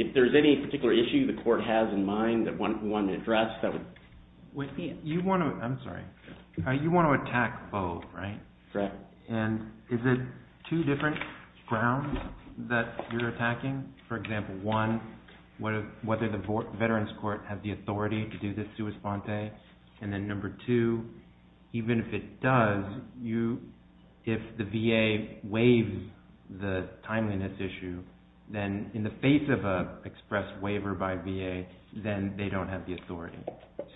If there's any particular issue the court has in mind that we want to address, that would be it. You want to, I'm sorry, you want to attack foe, right? Correct. And is it two different grounds that you're attacking? For example, one, whether the Veterans Court has the authority to do this sua sponte, and then number two, even if it does, if the VA waives the timeliness issue, then in the face of an express waiver by VA, then they don't have the authority.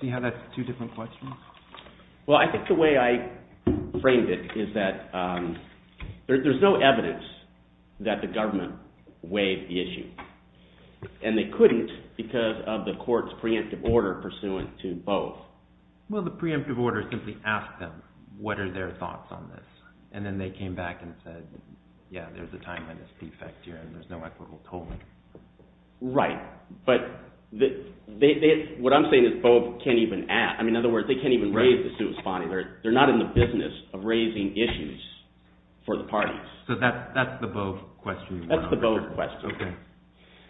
See how that's two different questions? Well, I think the way I framed it is that there's no evidence that the government waived the issue. And they couldn't because of the court's preemptive order pursuant to both. Well, the preemptive order simply asked them, what are their thoughts on this? And then they came back and said, yeah, there's a timeliness defect here and there's no equitable tolling. Right, but what I'm saying is both can't even add. In other words, they can't even raise the sua sponte. They're not in the business of raising issues for the parties. So that's the both question. That's the both question. Okay.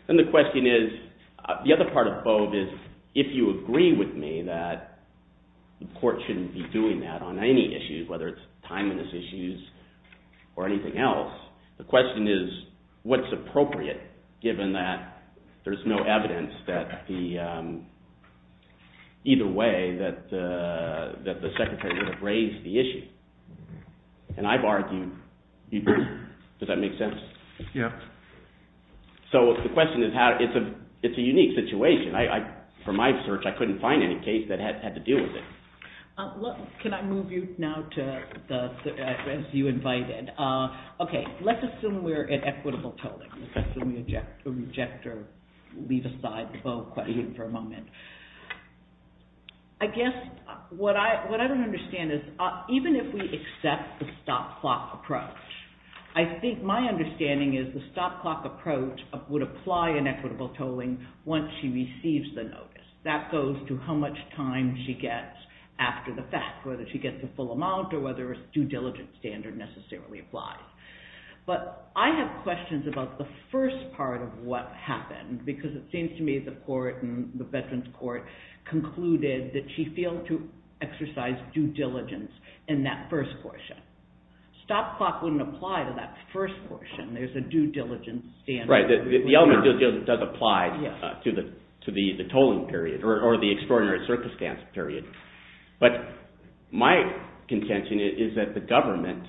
And the question is, the other part of both is, if you agree with me that the court shouldn't be doing that on any issue, whether it's timeliness issues or anything else, the question is, what's appropriate, given that there's no evidence that either way that the secretary would have raised the issue? And I've argued, does that make sense? Yeah. So the question is, it's a unique situation. From my research, I couldn't find any case that had to do with it. Can I move you now to the, as you invited. Okay, let's assume we're at equitable tolling. Let's assume we reject or leave aside the both question for a moment. I guess what I don't understand is, even if we accept the stop clock approach, I think my understanding is the stop clock approach would apply in equitable tolling once she receives the notice. That goes to how much time she gets after the fact, whether she gets the full amount or whether a due diligence standard necessarily applies. But I have questions about the first part of what happened, because it seems to me the court and the veterans court concluded that she failed to exercise due diligence in that first portion. Stop clock wouldn't apply to that first portion. There's a due diligence standard. Right, the element of due diligence does apply to the tolling period or the extraordinary circumstance period. But my contention is that the government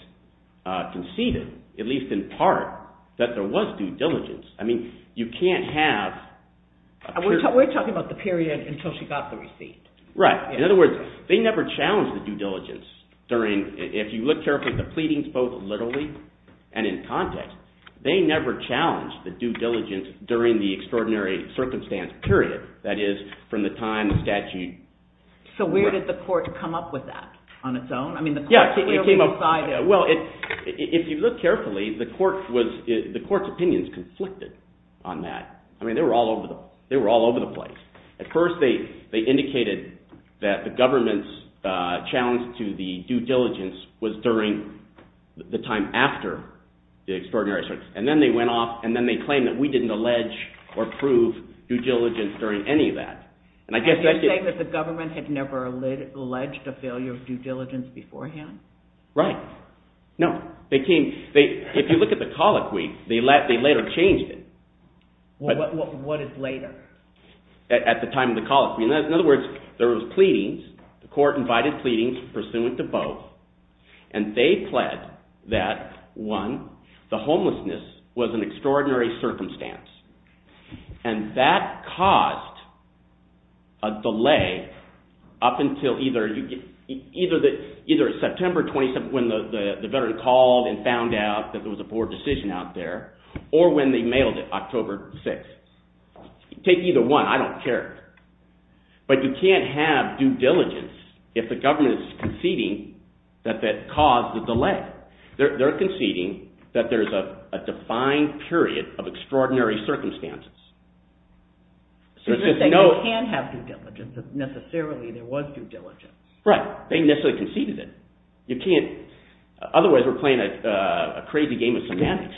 conceded, at least in part, that there was due diligence. I mean, you can't have… We're talking about the period until she got the receipt. Right. In other words, they never challenged the due diligence. If you look carefully at the pleadings, both literally and in context, they never challenged the due diligence during the extraordinary circumstance period, that is, from the time the statute… So where did the court come up with that on its own? Well, if you look carefully, the court's opinions conflicted on that. I mean, they were all over the place. At first they indicated that the government's challenge to the due diligence was during the time after the extraordinary circumstance, and then they went off and then they claimed that we didn't allege or prove due diligence during any of that. And you're saying that the government had never alleged a failure of due diligence beforehand? Right. No. If you look at the colloquy, they later changed it. What is later? At the time of the colloquy. In other words, there was pleadings, the court invited pleadings pursuant to both, and they pled that, one, the homelessness was an extraordinary circumstance, and that caused a delay up until either September 27th when the veteran called and found out that there was a board decision out there or when they mailed it October 6th. Take either one. I don't care. But you can't have due diligence if the government is conceding that that caused the delay. Right. They're conceding that there's a defined period of extraordinary circumstances. So you're saying they can't have due diligence if necessarily there was due diligence. Right. They necessarily conceded it. You can't – otherwise we're playing a crazy game of semantics.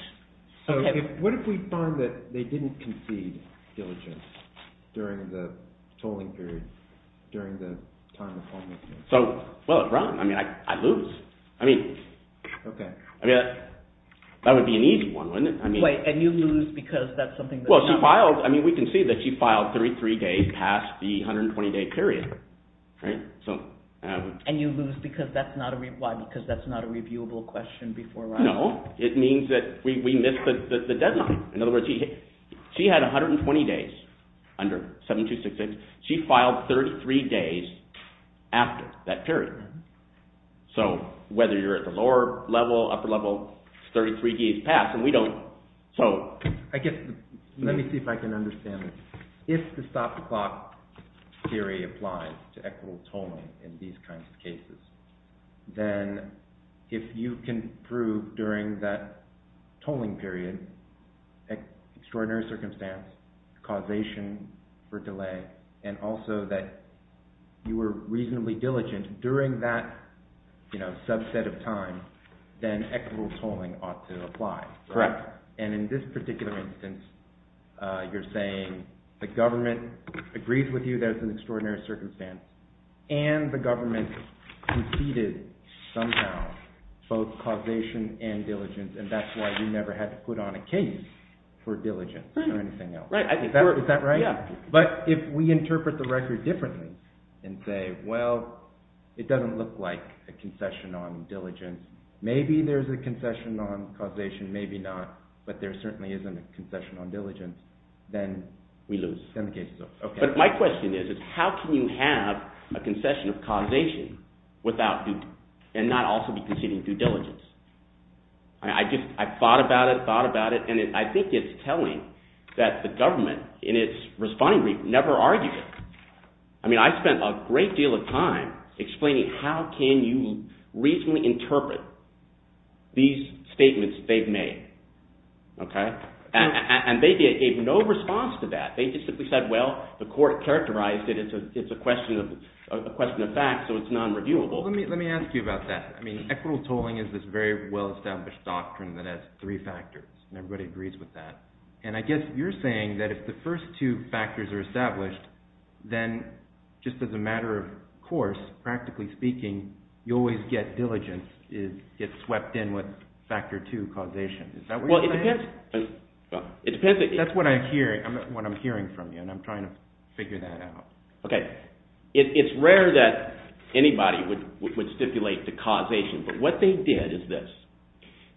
So what if we find that they didn't concede due diligence during the tolling period, during the time of homelessness? So, well, Ron, I mean, I'd lose. I mean, that would be an easy one, wouldn't it? Wait, and you'd lose because that's something – Well, she filed – I mean, we can see that she filed 33 days past the 120-day period. And you'd lose because that's not a – why, because that's not a reviewable question before Ron? No. It means that we missed the deadline. In other words, she had 120 days under 7266. She filed 33 days after that period. So whether you're at the lower level, upper level, 33 days passed, and we don't – so – I guess – let me see if I can understand this. If the stop-the-clock theory applies to equitable tolling in these kinds of cases, then if you can prove during that tolling period, extraordinary circumstance, causation for delay, and also that you were reasonably diligent during that subset of time, then equitable tolling ought to apply. Correct. And in this particular instance, you're saying the government agrees with you that it's an extraordinary circumstance, and the government conceded somehow both causation and diligence, and that's why you never had to put on a case for diligence or anything else. Right. Is that right? Yeah. But if we interpret the record differently and say, well, it doesn't look like a concession on diligence, maybe there's a concession on causation, maybe not, but there certainly isn't a concession on diligence, then – We lose. Then the case is over. Okay. But my question is, is how can you have a concession of causation without – and not also be conceding due diligence? I just – I thought about it, thought about it, and I think it's telling that the government in its responding report never argued it. I mean I spent a great deal of time explaining how can you reasonably interpret these statements they've made. And they gave no response to that. They just simply said, well, the court characterized it as a question of fact, so it's non-reviewable. Let me ask you about that. I mean equitable tolling is this very well-established doctrine that has three factors, and everybody agrees with that. And I guess you're saying that if the first two factors are established, then just as a matter of course, practically speaking, you always get diligence, get swept in with factor two causation. Is that what you're saying? Well, it depends. That's what I'm hearing from you, and I'm trying to figure that out. Okay. It's rare that anybody would stipulate the causation, but what they did is this.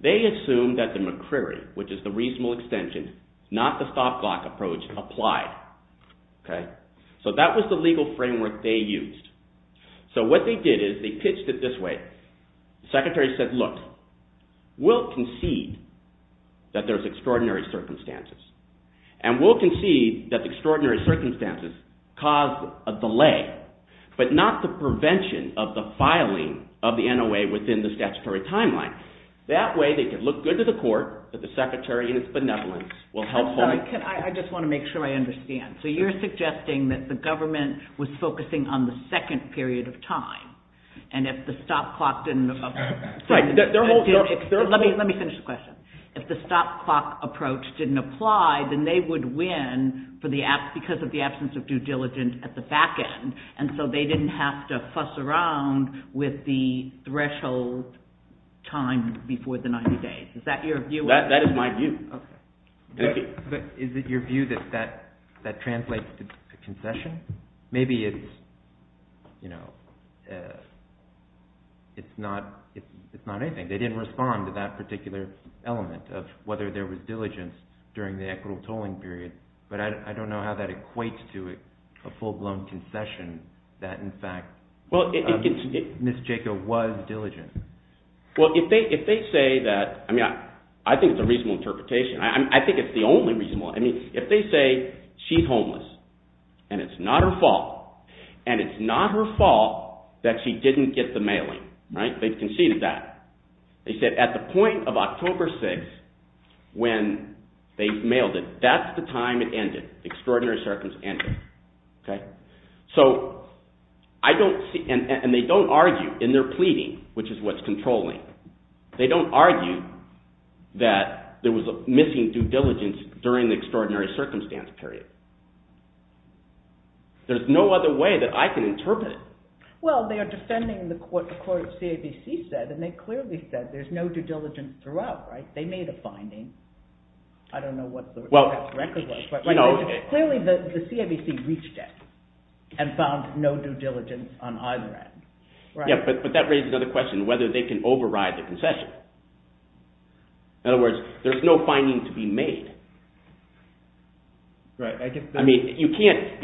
They assumed that the McCreary, which is the reasonable extension, not the stopglock approach, applied. So that was the legal framework they used. So what they did is they pitched it this way. The secretary said, look, we'll concede that there's extraordinary circumstances, and we'll concede that extraordinary circumstances cause a delay, but not the prevention of the filing of the NOA within the statutory timeline. That way they could look good to the court, but the secretary in its benevolence will helpfully— I just want to make sure I understand. So you're suggesting that the government was focusing on the second period of time, and if the stopclock didn't— Let me finish the question. If the stopclock approach didn't apply, then they would win because of the absence of due diligence at the back end, and so they didn't have to fuss around with the threshold time before the 90 days. Is that your view? That is my view. Okay. Is it your view that that translates to concession? Maybe it's not anything. They didn't respond to that particular element of whether there was diligence during the equitable tolling period, but I don't know how that equates to a full-blown concession that in fact Ms. Jaco was diligent. Well, if they say that—I mean I think it's a reasonable interpretation. I think it's the only reasonable—I mean if they say she's homeless, and it's not her fault, and it's not her fault that she didn't get the mailing. They've conceded that. They said at the point of October 6th when they mailed it, that's the time it ended, extraordinary circumstance ended. So I don't see—and they don't argue in their pleading, which is what's controlling. They don't argue that there was a missing due diligence during the extraordinary circumstance period. There's no other way that I can interpret it. Well, they are defending what the court of CABC said, and they clearly said there's no due diligence throughout. They made a finding. I don't know what the record was, but clearly the CABC reached it and found no due diligence on either end. Yeah, but that raises another question, whether they can override the concession. In other words, there's no finding to be made. I mean you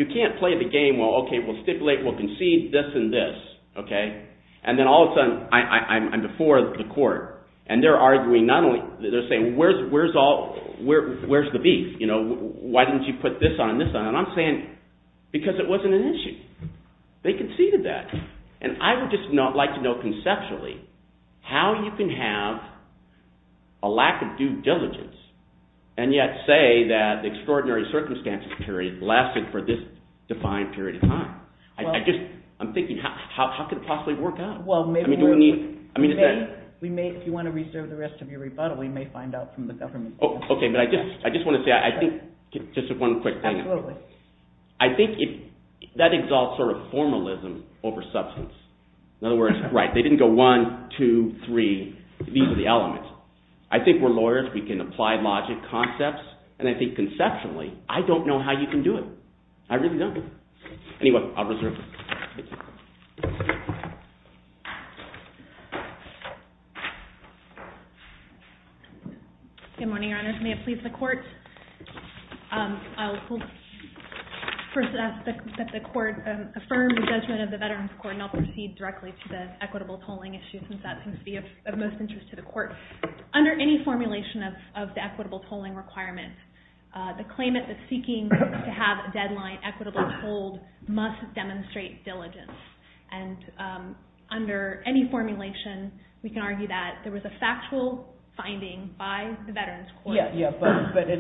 can't play the game, well, okay, we'll stipulate, we'll concede this and this. And then all of a sudden I'm before the court, and they're arguing not only—they're saying where's the beef? Why didn't you put this on and this on? And I'm saying because it wasn't an issue. They conceded that, and I would just like to know conceptually how you can have a lack of due diligence, and yet say that the extraordinary circumstances period lasted for this defined period of time. I just—I'm thinking how could it possibly work out? Well, maybe we— I mean is that— We may—if you want to reserve the rest of your rebuttal, we may find out from the government. Okay, but I just want to say, I think—just one quick thing. Absolutely. I think that exalts sort of formalism over substance. In other words, right, they didn't go one, two, three. These are the elements. I think we're lawyers. We can apply logic concepts, and I think conceptually I don't know how you can do it. I really don't. Anyway, I'll reserve it. Good morning, Your Honors. May it please the Court. I'll first ask that the Court affirm the judgment of the Veterans Court, and then I'll proceed directly to the equitable tolling issue since that seems to be of most interest to the Court. Under any formulation of the equitable tolling requirement, the claimant that's seeking to have a deadline equitably tolled must demonstrate diligence. And under any formulation, we can argue that there was a factual finding by the Veterans Court. Yeah, but as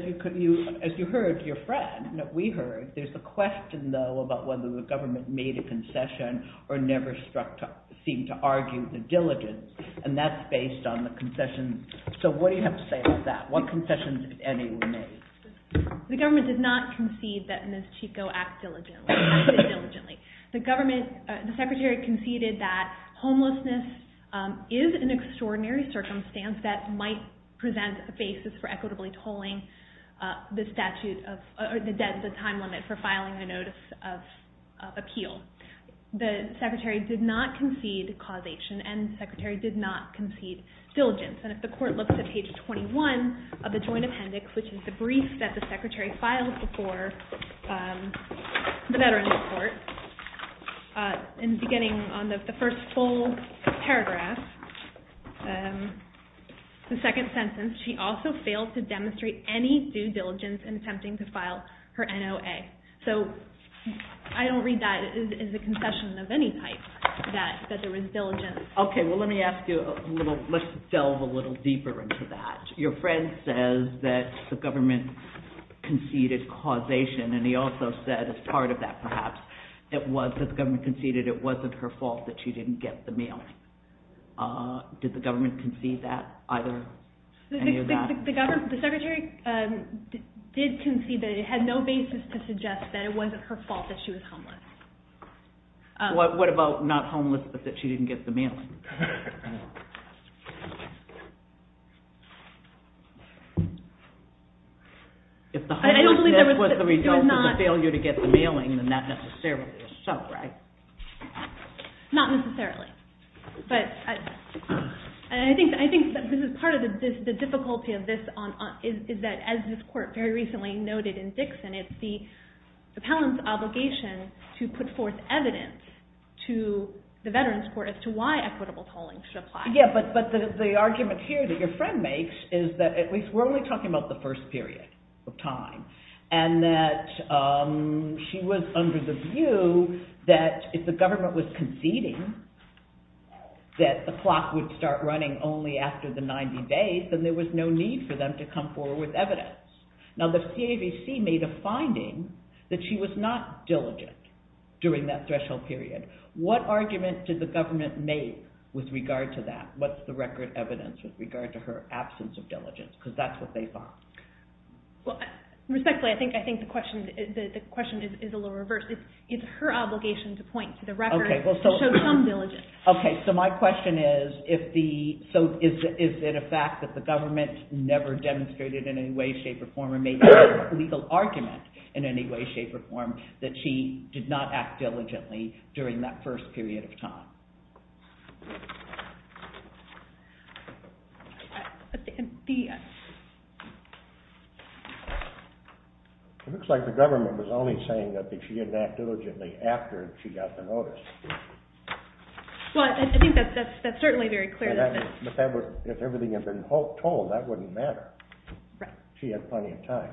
you heard, your friend, we heard, there's a question, though, about whether the government made a concession or never seemed to argue the diligence, and that's based on the concession. So what do you have to say about that? What concessions, if any, were made? The government did not concede that Ms. Chico acted diligently. The government, the Secretary conceded that homelessness is an extraordinary circumstance that might present a basis for equitably tolling the statute of, or the deadline, the time limit for filing a notice of appeal. The Secretary did not concede causation, and the Secretary did not concede diligence. And if the Court looks at page 21 of the Joint Appendix, which is the brief that the Secretary filed before the Veterans Court, in the beginning on the first full paragraph, the second sentence, she also failed to demonstrate any due diligence in attempting to file her NOA. So I don't read that as a concession of any type, that there was diligence. Okay, well let me ask you, let's delve a little deeper into that. Your friend says that the government conceded causation, and he also said, as part of that perhaps, that the government conceded it wasn't her fault that she didn't get the mailing. Did the government concede that, either? The Secretary did concede that it had no basis to suggest that it wasn't her fault that she was homeless. What about not homeless, but that she didn't get the mailing? If the homelessness was the result of the failure to get the mailing, then that necessarily is so, right? Not necessarily. But I think that this is part of the difficulty of this, is that as this Court very recently noted in Dixon, it's the appellant's obligation to put forth evidence to the Veterans Court as to why equitable tolling should apply. Yeah, but the argument here that your friend makes is that, at least we're only talking about the first period of time, and that she was under the view that if the government was conceding that the clock would start running only after the 90 days, then there was no need for them to come forward with evidence. Now the CAVC made a finding that she was not diligent during that threshold period. What argument did the government make with regard to that? What's the record evidence with regard to her absence of diligence? Because that's what they found. Respectfully, I think the question is a little reversed. It's her obligation to point to the record to show some diligence. Okay, so my question is, is it a fact that the government never demonstrated in any way, shape, or form or made a legal argument in any way, shape, or form that she did not act diligently during that first period of time? It looks like the government was only saying that she didn't act diligently after she got the notice. Well, I think that's certainly very clear. If everything had been told, that wouldn't matter. She had plenty of time.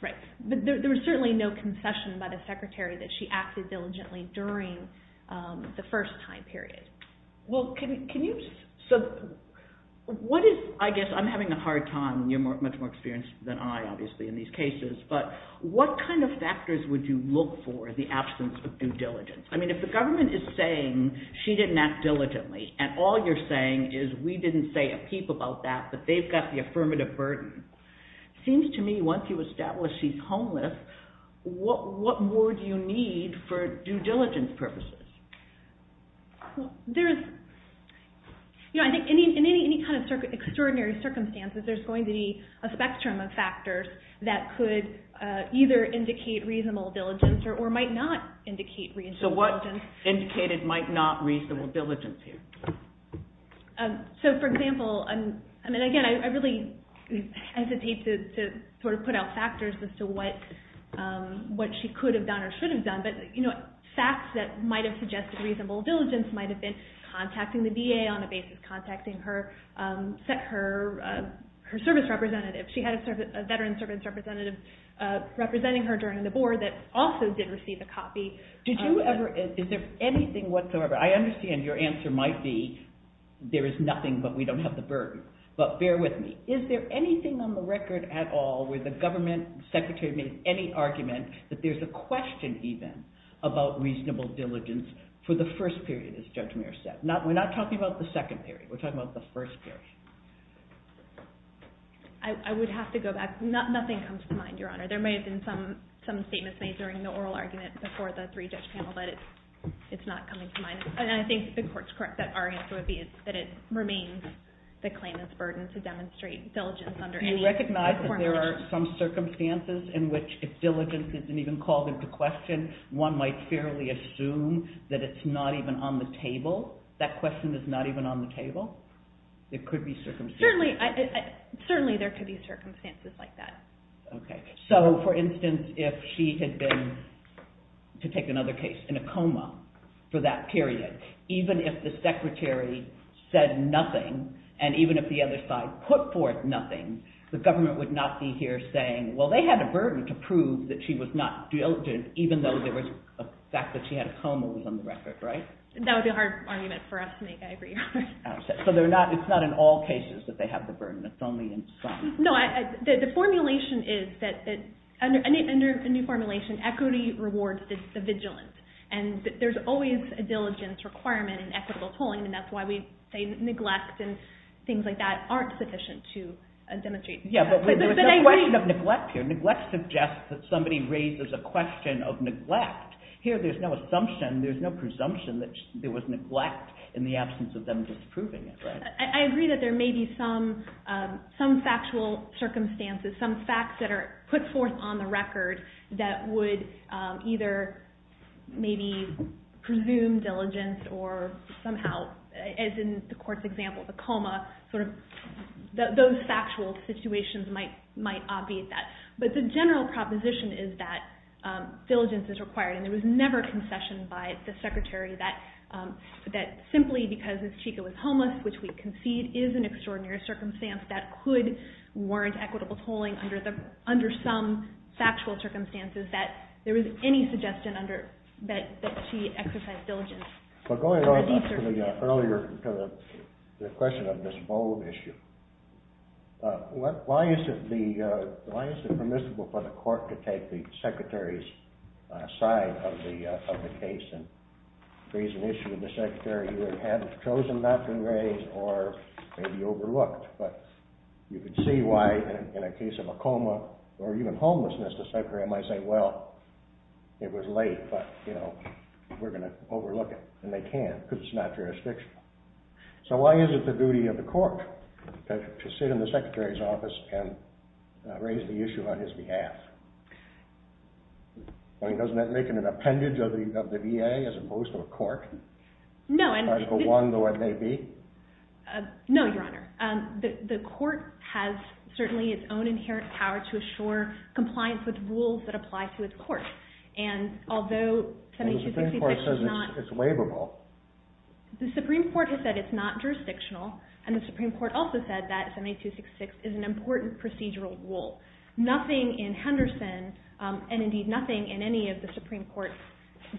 Right. But there was certainly no concession by the Secretary that she acted diligently during the first time period. Well, can you... So what is... I guess I'm having a hard time. You're much more experienced than I, obviously, in these cases. But what kind of factors would you look for in the absence of due diligence? I mean, if the government is saying she didn't act diligently and all you're saying is we didn't say a peep about that but they've got the affirmative burden, it seems to me once you establish she's homeless, what more do you need for due diligence purposes? In any kind of extraordinary circumstances, there's going to be a spectrum of factors that could either indicate reasonable diligence or might not indicate reasonable diligence. So what indicated might not reasonable diligence here? So, for example, I mean, again, I really... I don't want to hesitate to sort of put out factors as to what she could have done or should have done, but facts that might have suggested reasonable diligence might have been contacting the VA on a basis, contacting her service representative. She had a veteran service representative representing her during the board that also did receive a copy. Did you ever... Is there anything whatsoever... I understand your answer might be there is nothing but we don't have the burden, but bear with me. Is there anything on the record at all where the government secretary made any argument that there's a question even about reasonable diligence for the first period, as Judge Mayer said? We're not talking about the second period, we're talking about the first period. I would have to go back. Nothing comes to mind, Your Honor. There may have been some statements made during the oral argument before the three-judge panel but it's not coming to mind. And I think the court's correct that our answer would be that it remains the claimant's burden to demonstrate diligence under any... Do you recognize that there are some circumstances in which if diligence isn't even called into question, one might fairly assume that it's not even on the table? That question is not even on the table? It could be circumstances... Certainly there could be circumstances like that. Okay. So, for instance, if she had been, to take another case, in a coma for that period, even if the secretary said nothing and even if the other side put forth nothing, the government would not be here saying, well, they had a burden to prove that she was not diligent even though there was a fact that she had a coma was on the record, right? That would be a hard argument for us to make, I agree. So it's not in all cases that they have the burden, it's only in some. No, the formulation is that... Under the new formulation, equity rewards the vigilance. And there's always a diligence requirement in equitable tolling and that's why we say neglect and things like that aren't sufficient to demonstrate... Yeah, but there was no question of neglect here. Neglect suggests that somebody raises a question of neglect. Here there's no assumption, there's no presumption that there was neglect in the absence of them disproving it. I agree that there may be some factual circumstances, some facts that are put forth on the record that would either maybe presume diligence or somehow, as in the court's example, the coma, those factual situations might obviate that. But the general proposition is that diligence is required and there was never a concession by the Secretary that simply because Ms. Chico was homeless, which we concede is an extraordinary circumstance, that could warrant equitable tolling under some factual circumstances, that there was any suggestion that she exercised diligence. But going on to the earlier question of this bold issue, why is it permissible for the court to take the Secretary's side of the case and raise an issue with the Secretary who had chosen not to raise or maybe overlooked? But you could see why in a case of a coma or even homelessness, the Secretary might say, well, it was late, but we're going to overlook it. And they can't because it's not jurisdictional. So why is it the duty of the court to sit in the Secretary's office and raise the issue on his behalf? I mean, doesn't that make an appendage of the VA as opposed to a court? No. Article I, though it may be? No, Your Honor. The court has certainly its own inherent power to assure compliance with rules that apply to its court. And although 7266 is not... The Supreme Court says it's waivable. The Supreme Court has said it's not jurisdictional. And the Supreme Court also said that 7266 is an important procedural rule. Nothing in Henderson, and indeed nothing in any of the Supreme Court's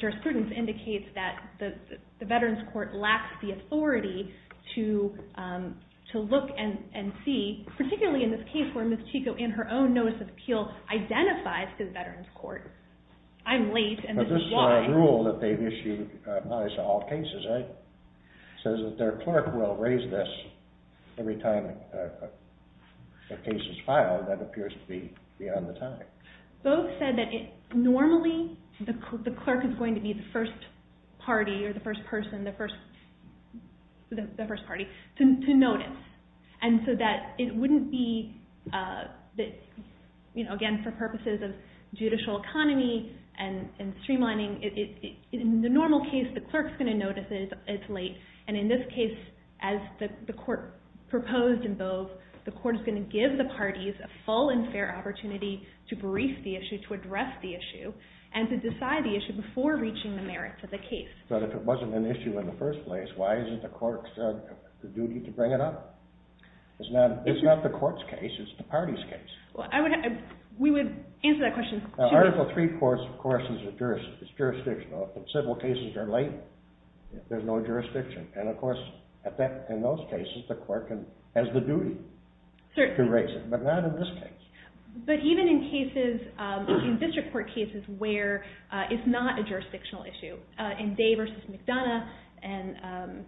jurisprudence, indicates that the Veterans Court lacks the authority to look and see, particularly in this case where Ms. Chico in her own notice of appeal identifies the Veterans Court. I'm late, and this is why. But this rule that they've issued applies to all cases, right? It says that their clerk will raise this every time a case is filed. That appears to be beyond the time. Both said that normally the clerk is going to be the first party or the first person, the first party, to notice. And so that it wouldn't be... Again, for purposes of judicial economy and streamlining, in the normal case, the clerk's going to notice it's late. And in this case, as the court proposed in Boves, the court is going to give the parties a full and fair opportunity to brief the issue, to address the issue, and to decide the issue before reaching the merits of the case. But if it wasn't an issue in the first place, why isn't the clerk's duty to bring it up? It's not the court's case, it's the party's case. We would answer that question. Article III, of course, is jurisdictional. If civil cases are late, there's no jurisdiction. And of course, in those cases, the clerk has the duty to raise it. But not in this case. But even in district court cases where it's not a jurisdictional issue, in Day v. McDonough, and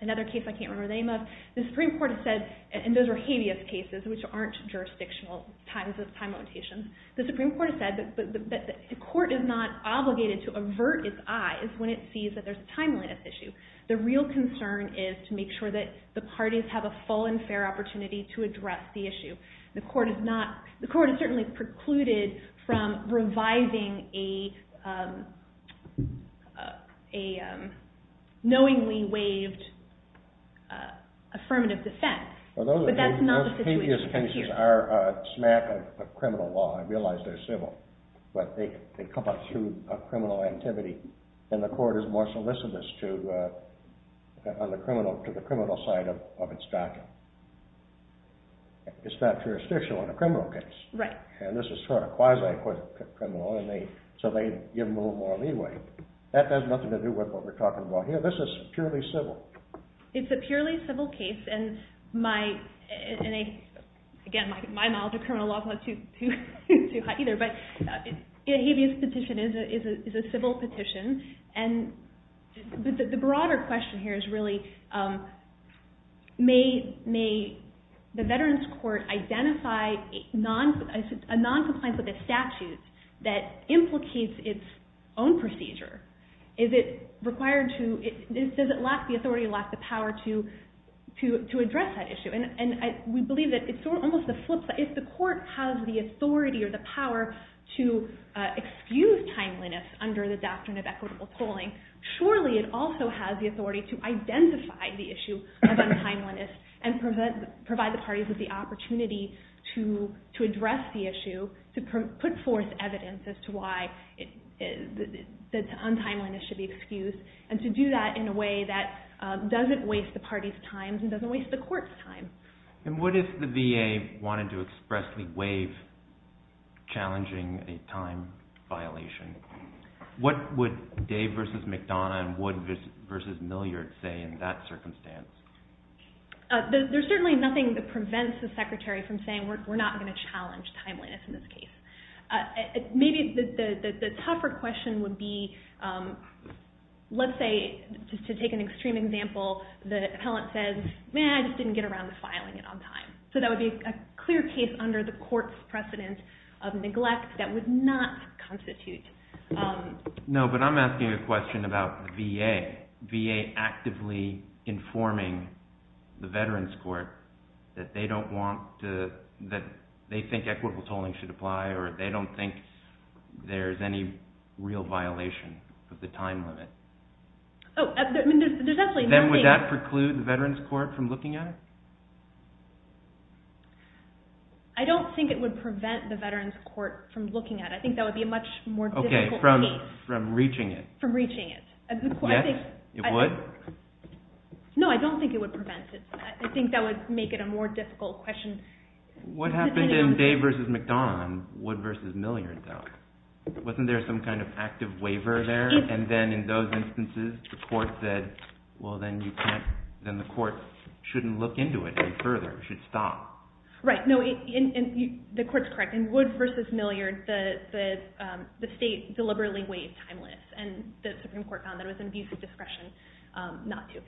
another case I can't remember the name of, the Supreme Court has said, and those were habeas cases, which aren't jurisdictional times of time limitations, the Supreme Court has said that the court is not obligated to avert its eyes when it sees that there's a timeliness issue. The real concern is to make sure that the parties have a full and fair opportunity to address the issue. The court is certainly precluded from revising a knowingly waived affirmative defense. But that's not the situation here. Those habeas cases are a smack of criminal law. I realize they're civil. But they come up through a criminal activity, and the court is more solicitous to the criminal side of its document. It's not jurisdictional in a criminal case. And this is sort of quasi-criminal, so they give them a little more leeway. That has nothing to do with what we're talking about here. This is purely civil. It's a purely civil case. And again, my knowledge of criminal law is not too hot either. But a habeas petition is a civil petition. And the broader question here is really, may the Veterans Court identify a noncompliance with a statute that implicates its own procedure? Does the authority lack the power to address that issue? And we believe that it's almost the flip side. If the court has the authority or the power to excuse timeliness under the doctrine of equitable polling, surely it also has the authority to identify the issue of untimeliness and provide the parties with the opportunity to address the issue, to put forth evidence as to why the untimeliness should be excused, and to do that in a way that doesn't waste the party's time and doesn't waste the court's time. And what if the VA wanted to expressly waive challenging a time violation? What would Dave v. McDonough and Wood v. Milliard say in that circumstance? There's certainly nothing that prevents the Secretary from saying we're not going to challenge timeliness in this case. Maybe the tougher question would be, let's say, to take an extreme example, the appellant says, I just didn't get around to filing it on time. So that would be a clear case under the court's precedent of neglect that would not constitute. No, but I'm asking a question about the VA actively informing the Veterans Court that they think equitable polling should apply or they don't think there's any real violation of the time limit. Then would that preclude the Veterans Court from looking at it? I don't think it would prevent the Veterans Court from looking at it. I think that would be a much more difficult case. Okay, from reaching it. From reaching it. Yes, it would. No, I don't think it would prevent it. I think that would make it a more difficult question. What happened in Dave v. McDonough and Wood v. Milliard, though? Wasn't there some kind of active waiver there? And then in those instances the court said, well, then the court shouldn't look into it any further. It should stop. Right. No, the court's correct. In Wood v. Milliard, the state deliberately waived time limits, and the Supreme Court found that it was an abuse of discretion not to.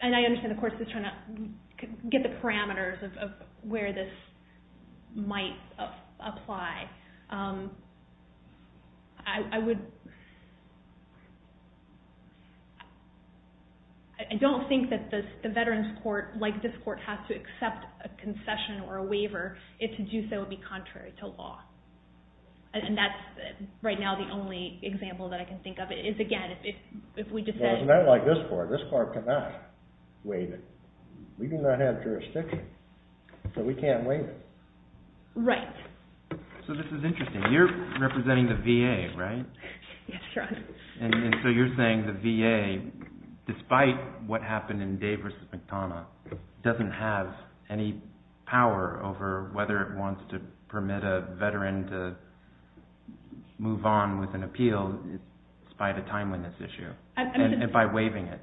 And I understand the court's just trying to get the parameters of where this might apply. I don't think that the Veterans Court, like this court, has to accept a concession or a waiver if to do so would be contrary to law. And that's right now the only example that I can think of is, again, if we just said... Well, it's not like this court. This court cannot waive it. We do not have jurisdiction, so we can't waive it. Right. So this is interesting. You're representing the VA, right? Yes, Your Honor. And so you're saying the VA, despite what happened in Day v. McDonough, doesn't have any power over whether it wants to permit a Veteran to move on with an appeal despite a time limit issue, and by waiving it.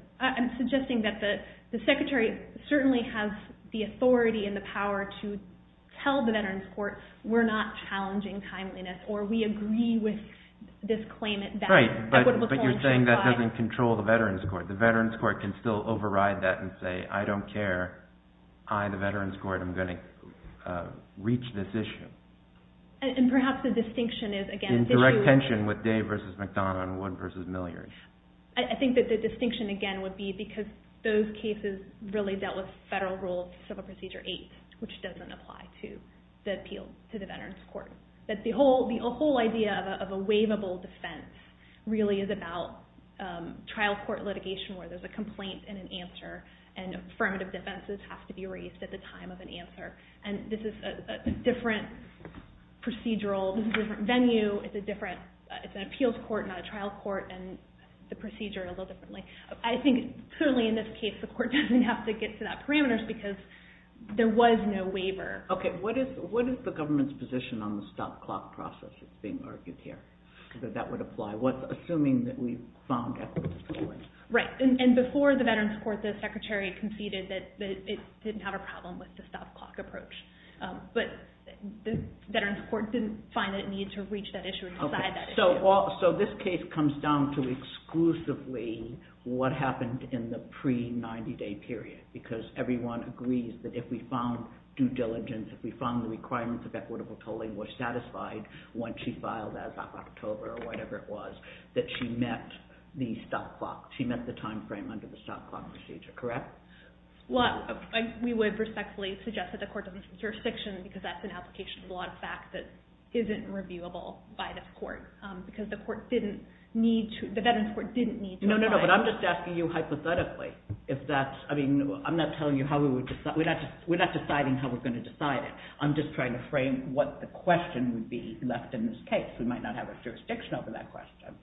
We're not challenging timeliness, or we agree with this claimant... Right, but you're saying that doesn't control the Veterans Court. The Veterans Court can still override that and say, I don't care, I, the Veterans Court, am going to reach this issue. And perhaps the distinction is, again... In direct tension with Day v. McDonough and Wood v. Milliard. I think that the distinction, again, would be because those cases really dealt with doesn't apply to the appeal to the Veterans Court. That the whole idea of a waivable defense really is about trial court litigation where there's a complaint and an answer, and affirmative defenses have to be raised at the time of an answer. And this is a different procedural, this is a different venue, it's a different, it's an appeals court, not a trial court, and the procedure a little differently. I think, certainly in this case, the court doesn't have to get to that parameters because there was no waiver. Okay, what is the government's position on the stop clock process that's being argued here, that that would apply? Assuming that we found equity in the court. Right, and before the Veterans Court, the Secretary conceded that it didn't have a problem with the stop clock approach. But the Veterans Court didn't find that it needed to reach that issue and decide that issue. So this case comes down to exclusively what happened in the pre-90-day period because everyone agrees that if we found due diligence, if we found the requirements of equitable tolling were satisfied when she filed as of October or whatever it was, that she met the stop clock, she met the time frame under the stop clock procedure, correct? Well, we would respectfully suggest that the court doesn't jurisdiction because that's an application of a lot of facts that isn't reviewable by this court because the court didn't need to, the Veterans Court didn't need to apply. No, no, no, but I'm just asking you hypothetically if that's, I mean, I'm not telling you how we would decide, we're not deciding how we're going to decide it. I'm just trying to frame what the question would be left in this case. We might not have a jurisdiction over that question.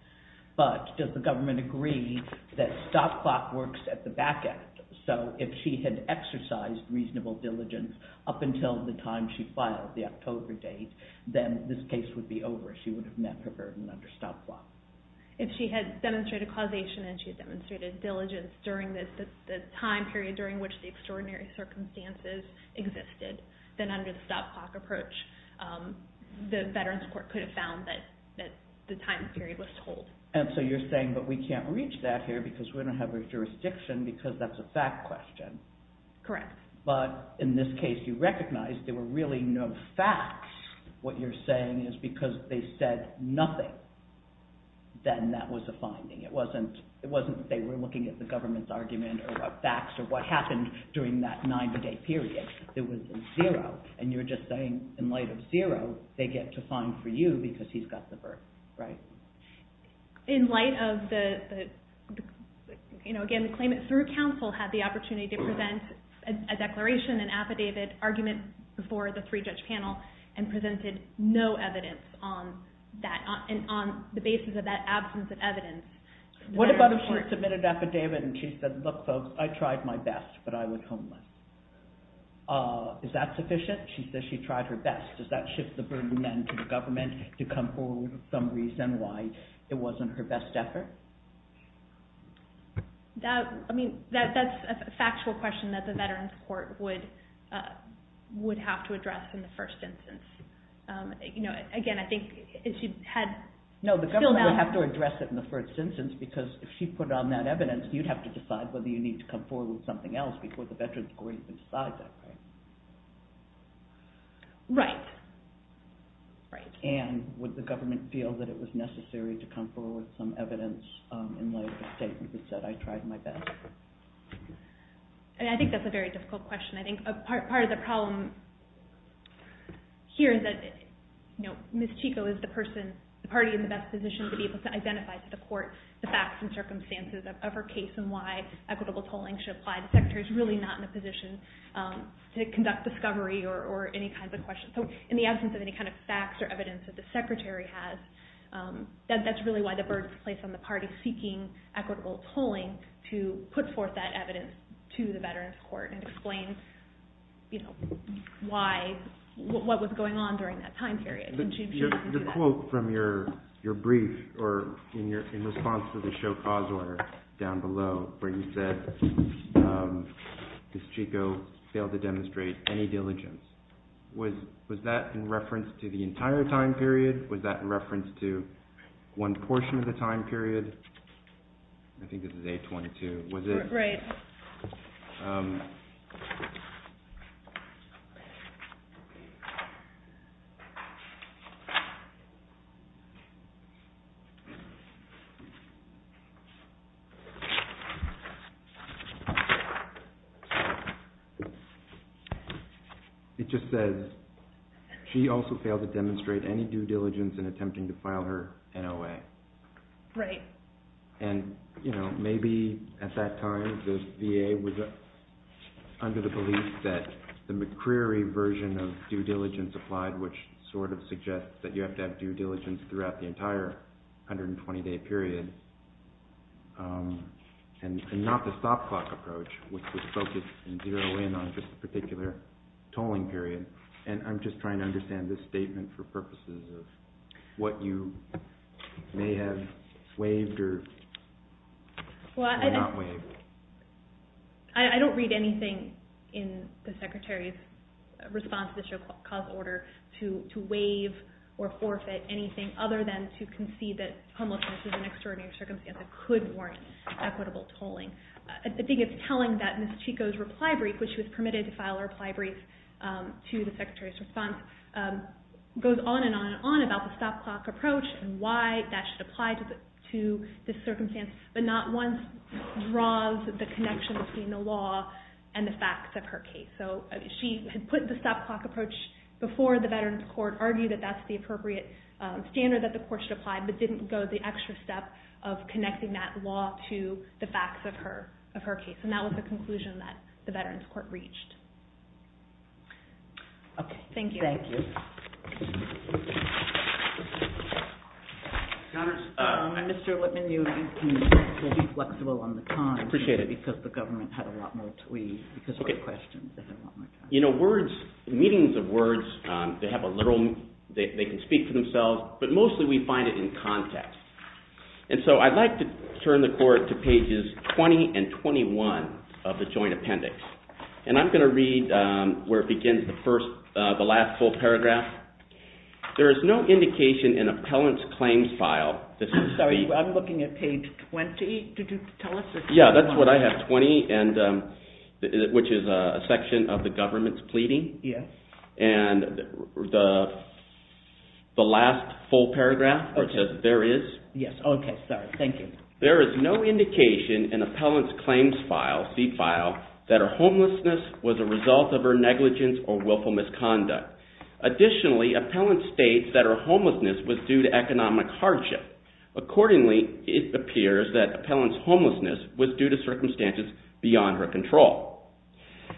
But does the government agree that stop clock works at the back end? So if she had exercised reasonable diligence up until the time she filed, the October date, then this case would be over. She would have met her burden under stop clock. If she had demonstrated causation and she had demonstrated diligence during the time period during which the extraordinary circumstances existed, then under the stop clock approach, the Veterans Court could have found that the time period was told. And so you're saying that we can't reach that here because we don't have a jurisdiction because that's a fact question. Correct. But in this case, you recognize there were really no facts. What you're saying is because they said nothing, then that was a finding. It wasn't that they were looking at the government's argument or what facts or what happened during that 90-day period. It was a zero. And you're just saying in light of zero, they get to find for you because he's got the birth, right? In light of the, again, the claimant through counsel had the opportunity to present a declaration, an affidavit, argument before the three-judge panel and presented no evidence on that on the basis of that absence of evidence. What about if she submitted an affidavit and she said, look, folks, I tried my best, but I was homeless? Is that sufficient? She says she tried her best. Does that shift the burden then to the government to come forward with some reason why it wasn't her best effort? I mean, that's a factual question that the Veterans Court would have to address in the first instance. Again, I think if she had... No, the government would have to address it in the first instance because if she put on that evidence, you'd have to decide whether you need to come forward with something else before the Veterans Court can decide that, right? Right. And would the government feel that it was necessary to come forward with some evidence in light of the statement that said, I tried my best? I think that's a very difficult question. I think part of the problem here is that Ms. Chico is the party in the best position to be able to identify to the court the facts and circumstances of her case and why equitable tolling should apply. The Secretary's really not in a position to conduct discovery or any kinds of questions. So in the absence of any kind of facts or evidence that the Secretary has, that's really why the burden is placed on the party seeking equitable tolling to put forth that evidence to the Veterans Court and explain what was going on during that time period. The quote from your brief or in response to the show cause order down below where you said Ms. Chico failed to demonstrate any diligence, was that in reference to the entire time period? Was that in reference to one portion of the time period? I think this is A22. Was it? Right. It just says, she also failed to demonstrate any due diligence in attempting to file her NOA. Right. And, you know, maybe at that time the VA was under the belief that the McCreary version of due diligence applied, which sort of suggests that you have to have due diligence throughout the entire 120-day period, and not the stop clock approach, which was focused in zero in on just a particular tolling period. And I'm just trying to understand this statement for purposes of what you may have waived or not waived. I don't read anything in the Secretary's response to the show cause order to waive or forfeit anything other than to concede that homelessness is an extraordinary circumstance that could warrant equitable tolling. I think it's telling that Ms. Chico's reply brief, which was permitted to file a reply brief to the Secretary's response, goes on and on and on about the stop clock approach and why that should apply to this circumstance, but not once draws the connection between the law and the facts of her case. So she had put the stop clock approach before the Veterans Court, argued that that's the appropriate standard that the Court should apply, but didn't go the extra step of connecting that law to the facts of her case. And that was the conclusion that the Veterans Court reached. Okay, thank you. Mr. Lipman, you will be flexible on the time because the government had a lot more to leave because of the questions. You know, meetings of words, they can speak for themselves, but mostly we find it in context. And so I'd like to turn the Court to pages 20 and 21 of the Joint Appendix. And I'm going to read where it begins, the last full paragraph. There is no indication in appellant's claims file... I'm sorry, I'm looking at page 20. Did you tell us? Yeah, that's what I have, 20, which is a section of the government's pleading. Yes. And the last full paragraph, where it says there is... Yes, okay, sorry, thank you. There is no indication in appellant's claims file, C file, that her homelessness was a result of her negligence or willful misconduct. Additionally, appellant states that her homelessness was due to economic hardship. Accordingly, it appears that appellant's homelessness was due to circumstances beyond her control.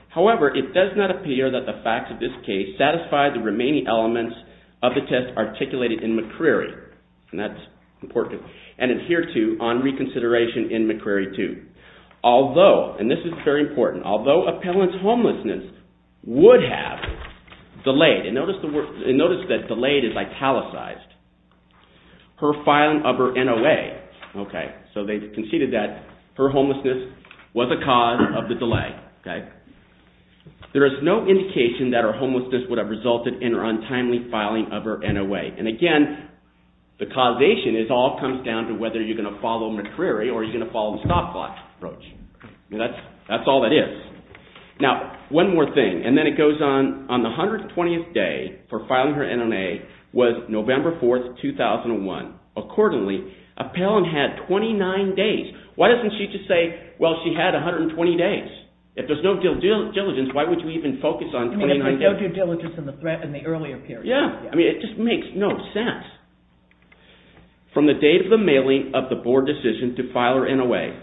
However, it does not appear that the facts of this case satisfy the remaining elements of the test articulated in McCreary, and that's important, and adhere to on reconsideration in McCreary 2. Although, and this is very important, although appellant's homelessness would have delayed, and notice that delayed is italicized, her filing of her NOA, so they conceded that her homelessness was a cause of the delay. There is no indication that her homelessness would have resulted in her untimely filing of her NOA. And again, the causation all comes down to whether you're going to follow McCreary or you're going to follow the stopwatch approach. That's all that is. Now, one more thing, and then it goes on, on the 120th day for filing her NOA was November 4, 2001. Accordingly, appellant had 29 days. Why doesn't she just say, well, she had 120 days? If there's no due diligence, why would you even focus on 29 days? I mean, if there's no due diligence in the earlier period. Yeah, I mean, it just makes no sense. From the date of the mailing of the board decision to file her NOA.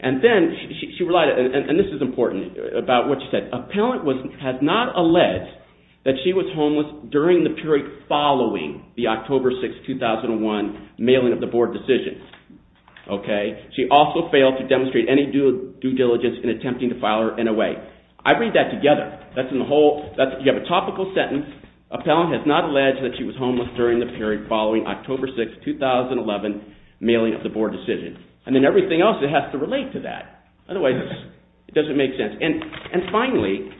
And then, and this is important about what she said, appellant has not alleged that she was homeless during the period following the October 6, 2001 mailing of the board decision. She also failed to demonstrate any due diligence in attempting to file her NOA. I read that together. You have a topical sentence. Appellant has not alleged that she was homeless during the period following October 6, 2011 mailing of the board decision. And then everything else, it has to relate to that. Otherwise, it doesn't make sense. And finally,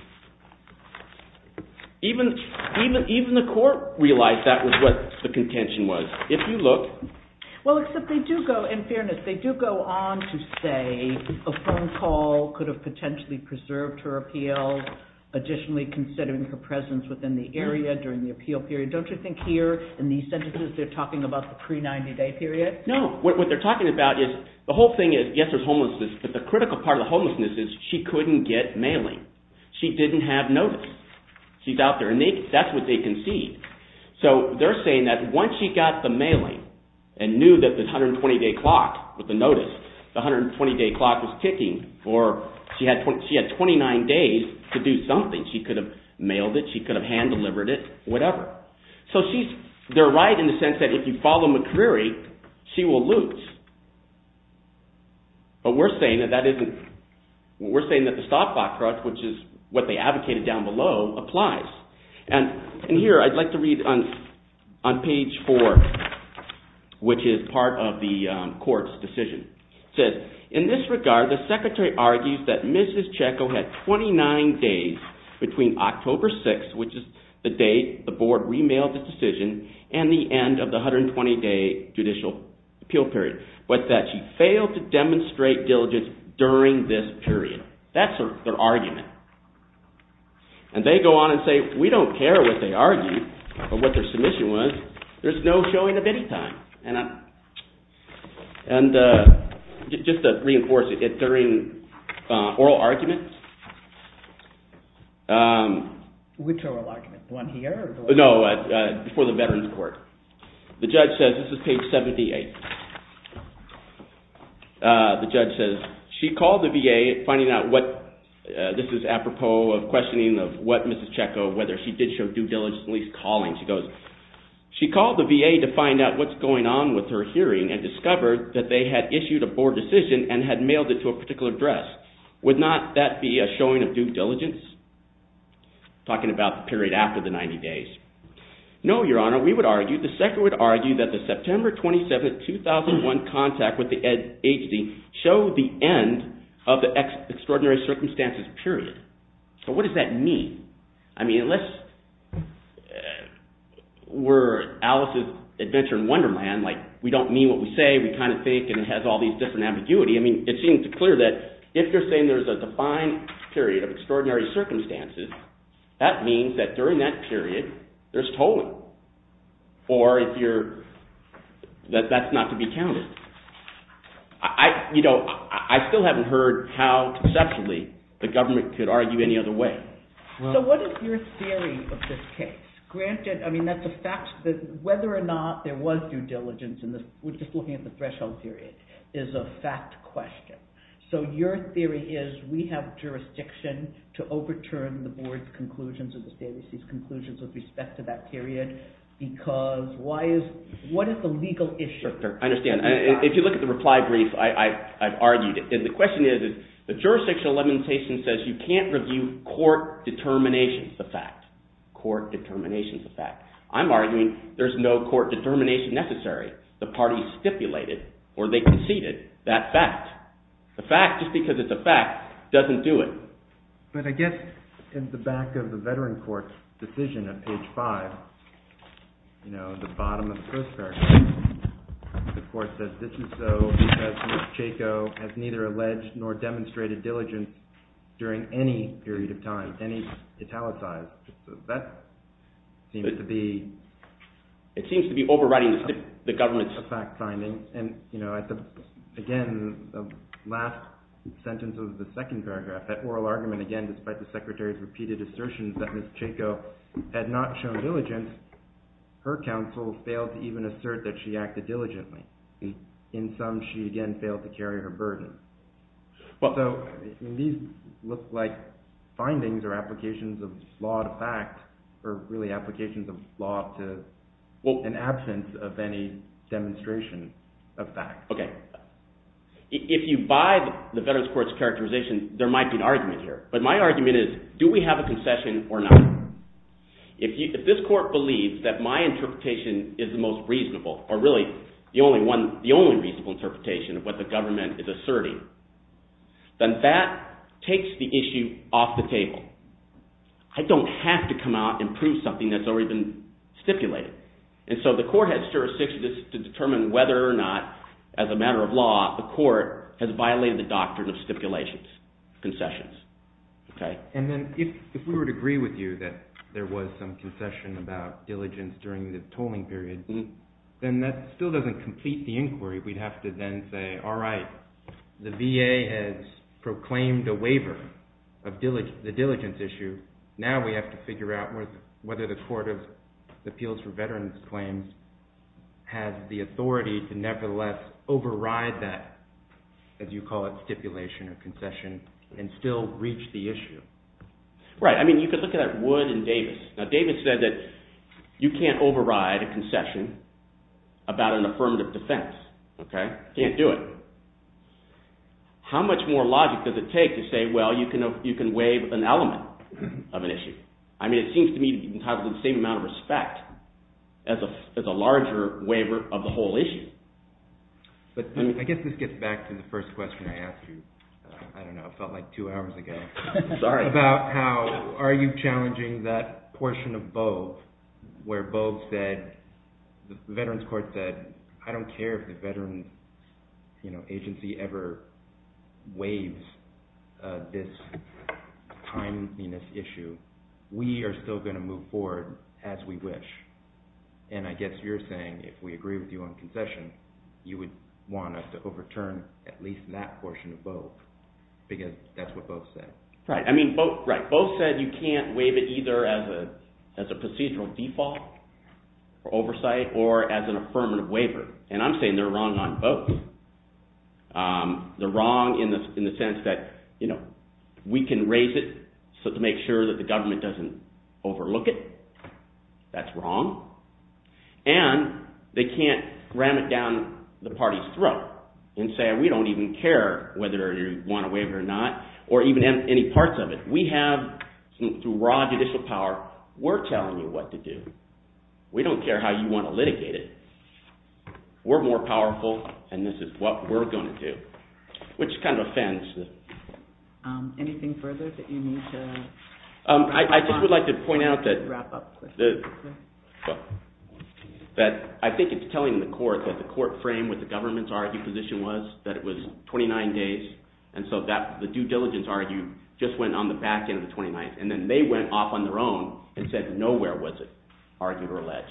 even the court realized that was what the contention was. If you look... Well, except they do go, in fairness, they do go on to say a phone call could have potentially preserved her appeal, additionally considering her presence within the area during the appeal period. Don't you think here, in these sentences, they're talking about the pre-90-day period? No, what they're talking about is, the whole thing is, yes, there's homelessness, but the critical part of the homelessness is she couldn't get mailing. She didn't have notice. She's out there, and that's what they concede. So they're saying that once she got the mailing and knew that the 120-day clock with the notice, the 120-day clock was ticking, or she had 29 days to do something, she could have mailed it, she could have hand-delivered it, whatever. So she's – they're right in the sense that if you follow McCreary, she will lose. But we're saying that that isn't – we're saying that the stop clock crutch, which is what they advocated down below, applies. And here I'd like to read on page four, which is part of the court's decision. It says, in this regard, the secretary argues that Mrs. Checco had 29 days between October 6th, which is the date the board remailed the decision, and the end of the 120-day judicial appeal period, but that she failed to demonstrate diligence during this period. That's their argument. And they go on and say, we don't care what they argued or what their submission was. There's no showing of any time. And just to reinforce it, during oral argument – Which oral argument, the one here? No, before the Veterans Court. The judge says – this is page 78. The judge says, she called the VA, finding out what – this is apropos of questioning of what Mrs. Checco, whether she did show due diligence in these callings. She goes, she called the VA to find out what's going on with her hearing and discovered that they had issued a board decision and had mailed it to a particular address. Would not that be a showing of due diligence? Talking about the period after the 90 days. No, Your Honor, we would argue, the secretary would argue that the September 27, 2001 contact with the ADHD showed the end of the extraordinary circumstances period. But what does that mean? I mean, unless we're Alice's Adventure in Wonderland, like we don't mean what we say, we kind of fake and it has all these different ambiguity. I mean, it seems clear that if you're saying there's a defined period of extraordinary circumstances, that means that during that period, there's tolling. Or if you're – that's not to be counted. I still haven't heard how conceptually the government could argue any other way. So what is your theory of this case? Granted, I mean, that's a fact that whether or not there was due diligence in this, we're just looking at the threshold period, is a fact question. So your theory is we have jurisdiction to overturn the board's conclusions or the state's conclusions with respect to that period because why is – what is the legal issue? Sure, sure, I understand. If you look at the reply brief, I've argued it. The question is, the jurisdictional limitation says you can't review court determinations, the fact. Court determinations, the fact. I'm arguing there's no court determination necessary. The parties stipulated or they conceded that fact. The fact, just because it's a fact, doesn't do it. But I guess in the back of the veteran court's decision at page 5, the bottom of the first paragraph, the court says this is so because Ms. Chaco has neither alleged nor demonstrated diligence during any period of time, any italicized. That seems to be... It seems to be overriding the government's fact finding. And, you know, again, the last sentence of the second paragraph, that oral argument again, despite the Secretary's repeated assertions that Ms. Chaco had not shown diligence, her counsel failed to even assert that she acted diligently. In sum, she again failed to carry her burden. So these look like findings or applications of law to fact or really applications of law to an absence of any demonstration of fact. Okay, if you buy the veterans court's characterization, there might be an argument here. But my argument is, do we have a concession or not? If this court believes that my interpretation is the most reasonable or really the only one, the only reasonable interpretation of what the government is asserting, then that takes the issue off the table. I don't have to come out and prove something that's already been stipulated. And so the court has jurisdiction to determine whether or not, as a matter of law, the court has violated the doctrine of stipulations, concessions, okay? And then if we would agree with you that there was some concession about diligence during the tolling period, then that still doesn't complete the inquiry. We'd have to then say, all right, the VA has proclaimed a waiver of the diligence issue. Now we have to figure out whether the Court of Appeals for Veterans Claims has the authority to nevertheless override that, as you call it, stipulation or concession, and still reach the issue. Right, I mean, you could look at Wood and Davis. Now, Davis said that you can't override a concession about an affirmative defense, okay? Can't do it. How much more logic does it take to say, well, you can waive an element of an issue? I mean, it seems to me to be entitled to the same amount of respect as a larger waiver of the whole issue. But I guess this gets back to the first question I asked you. I don't know, it felt like two hours ago. Sorry. About how are you challenging that portion of Bogue where Bogue said, the Veterans Court said, I don't care if the veteran agency ever waives this timeliness issue. We are still going to move forward as we wish. And I guess you're saying if we agree with you on concession, you would want us to overturn at least that portion of Bogue, because that's what Bogue said. Right, I mean, Bogue said you can't waive it either as a procedural default for oversight or as an affirmative waiver. And I'm saying they're wrong on both. They're wrong in the sense that, you know, we can raise it to make sure that the government doesn't overlook it. That's wrong. And they can't ram it down the party's throat and say we don't even care whether you want to waive it or not or even any parts of it. We have, through raw judicial power, we're telling you what to do. We don't care how you want to litigate it. We're more powerful, and this is what we're going to do, which kind of offends the... Anything further that you need to wrap up on? I just would like to point out that... I think it's telling the court that the court frame with the government's argued position was that it was 29 days, and so the due diligence argued just went on the back end of the 29th, and then they went off on their own and said nowhere was it argued or alleged.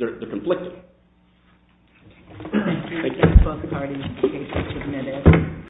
They're conflicted. Thank you.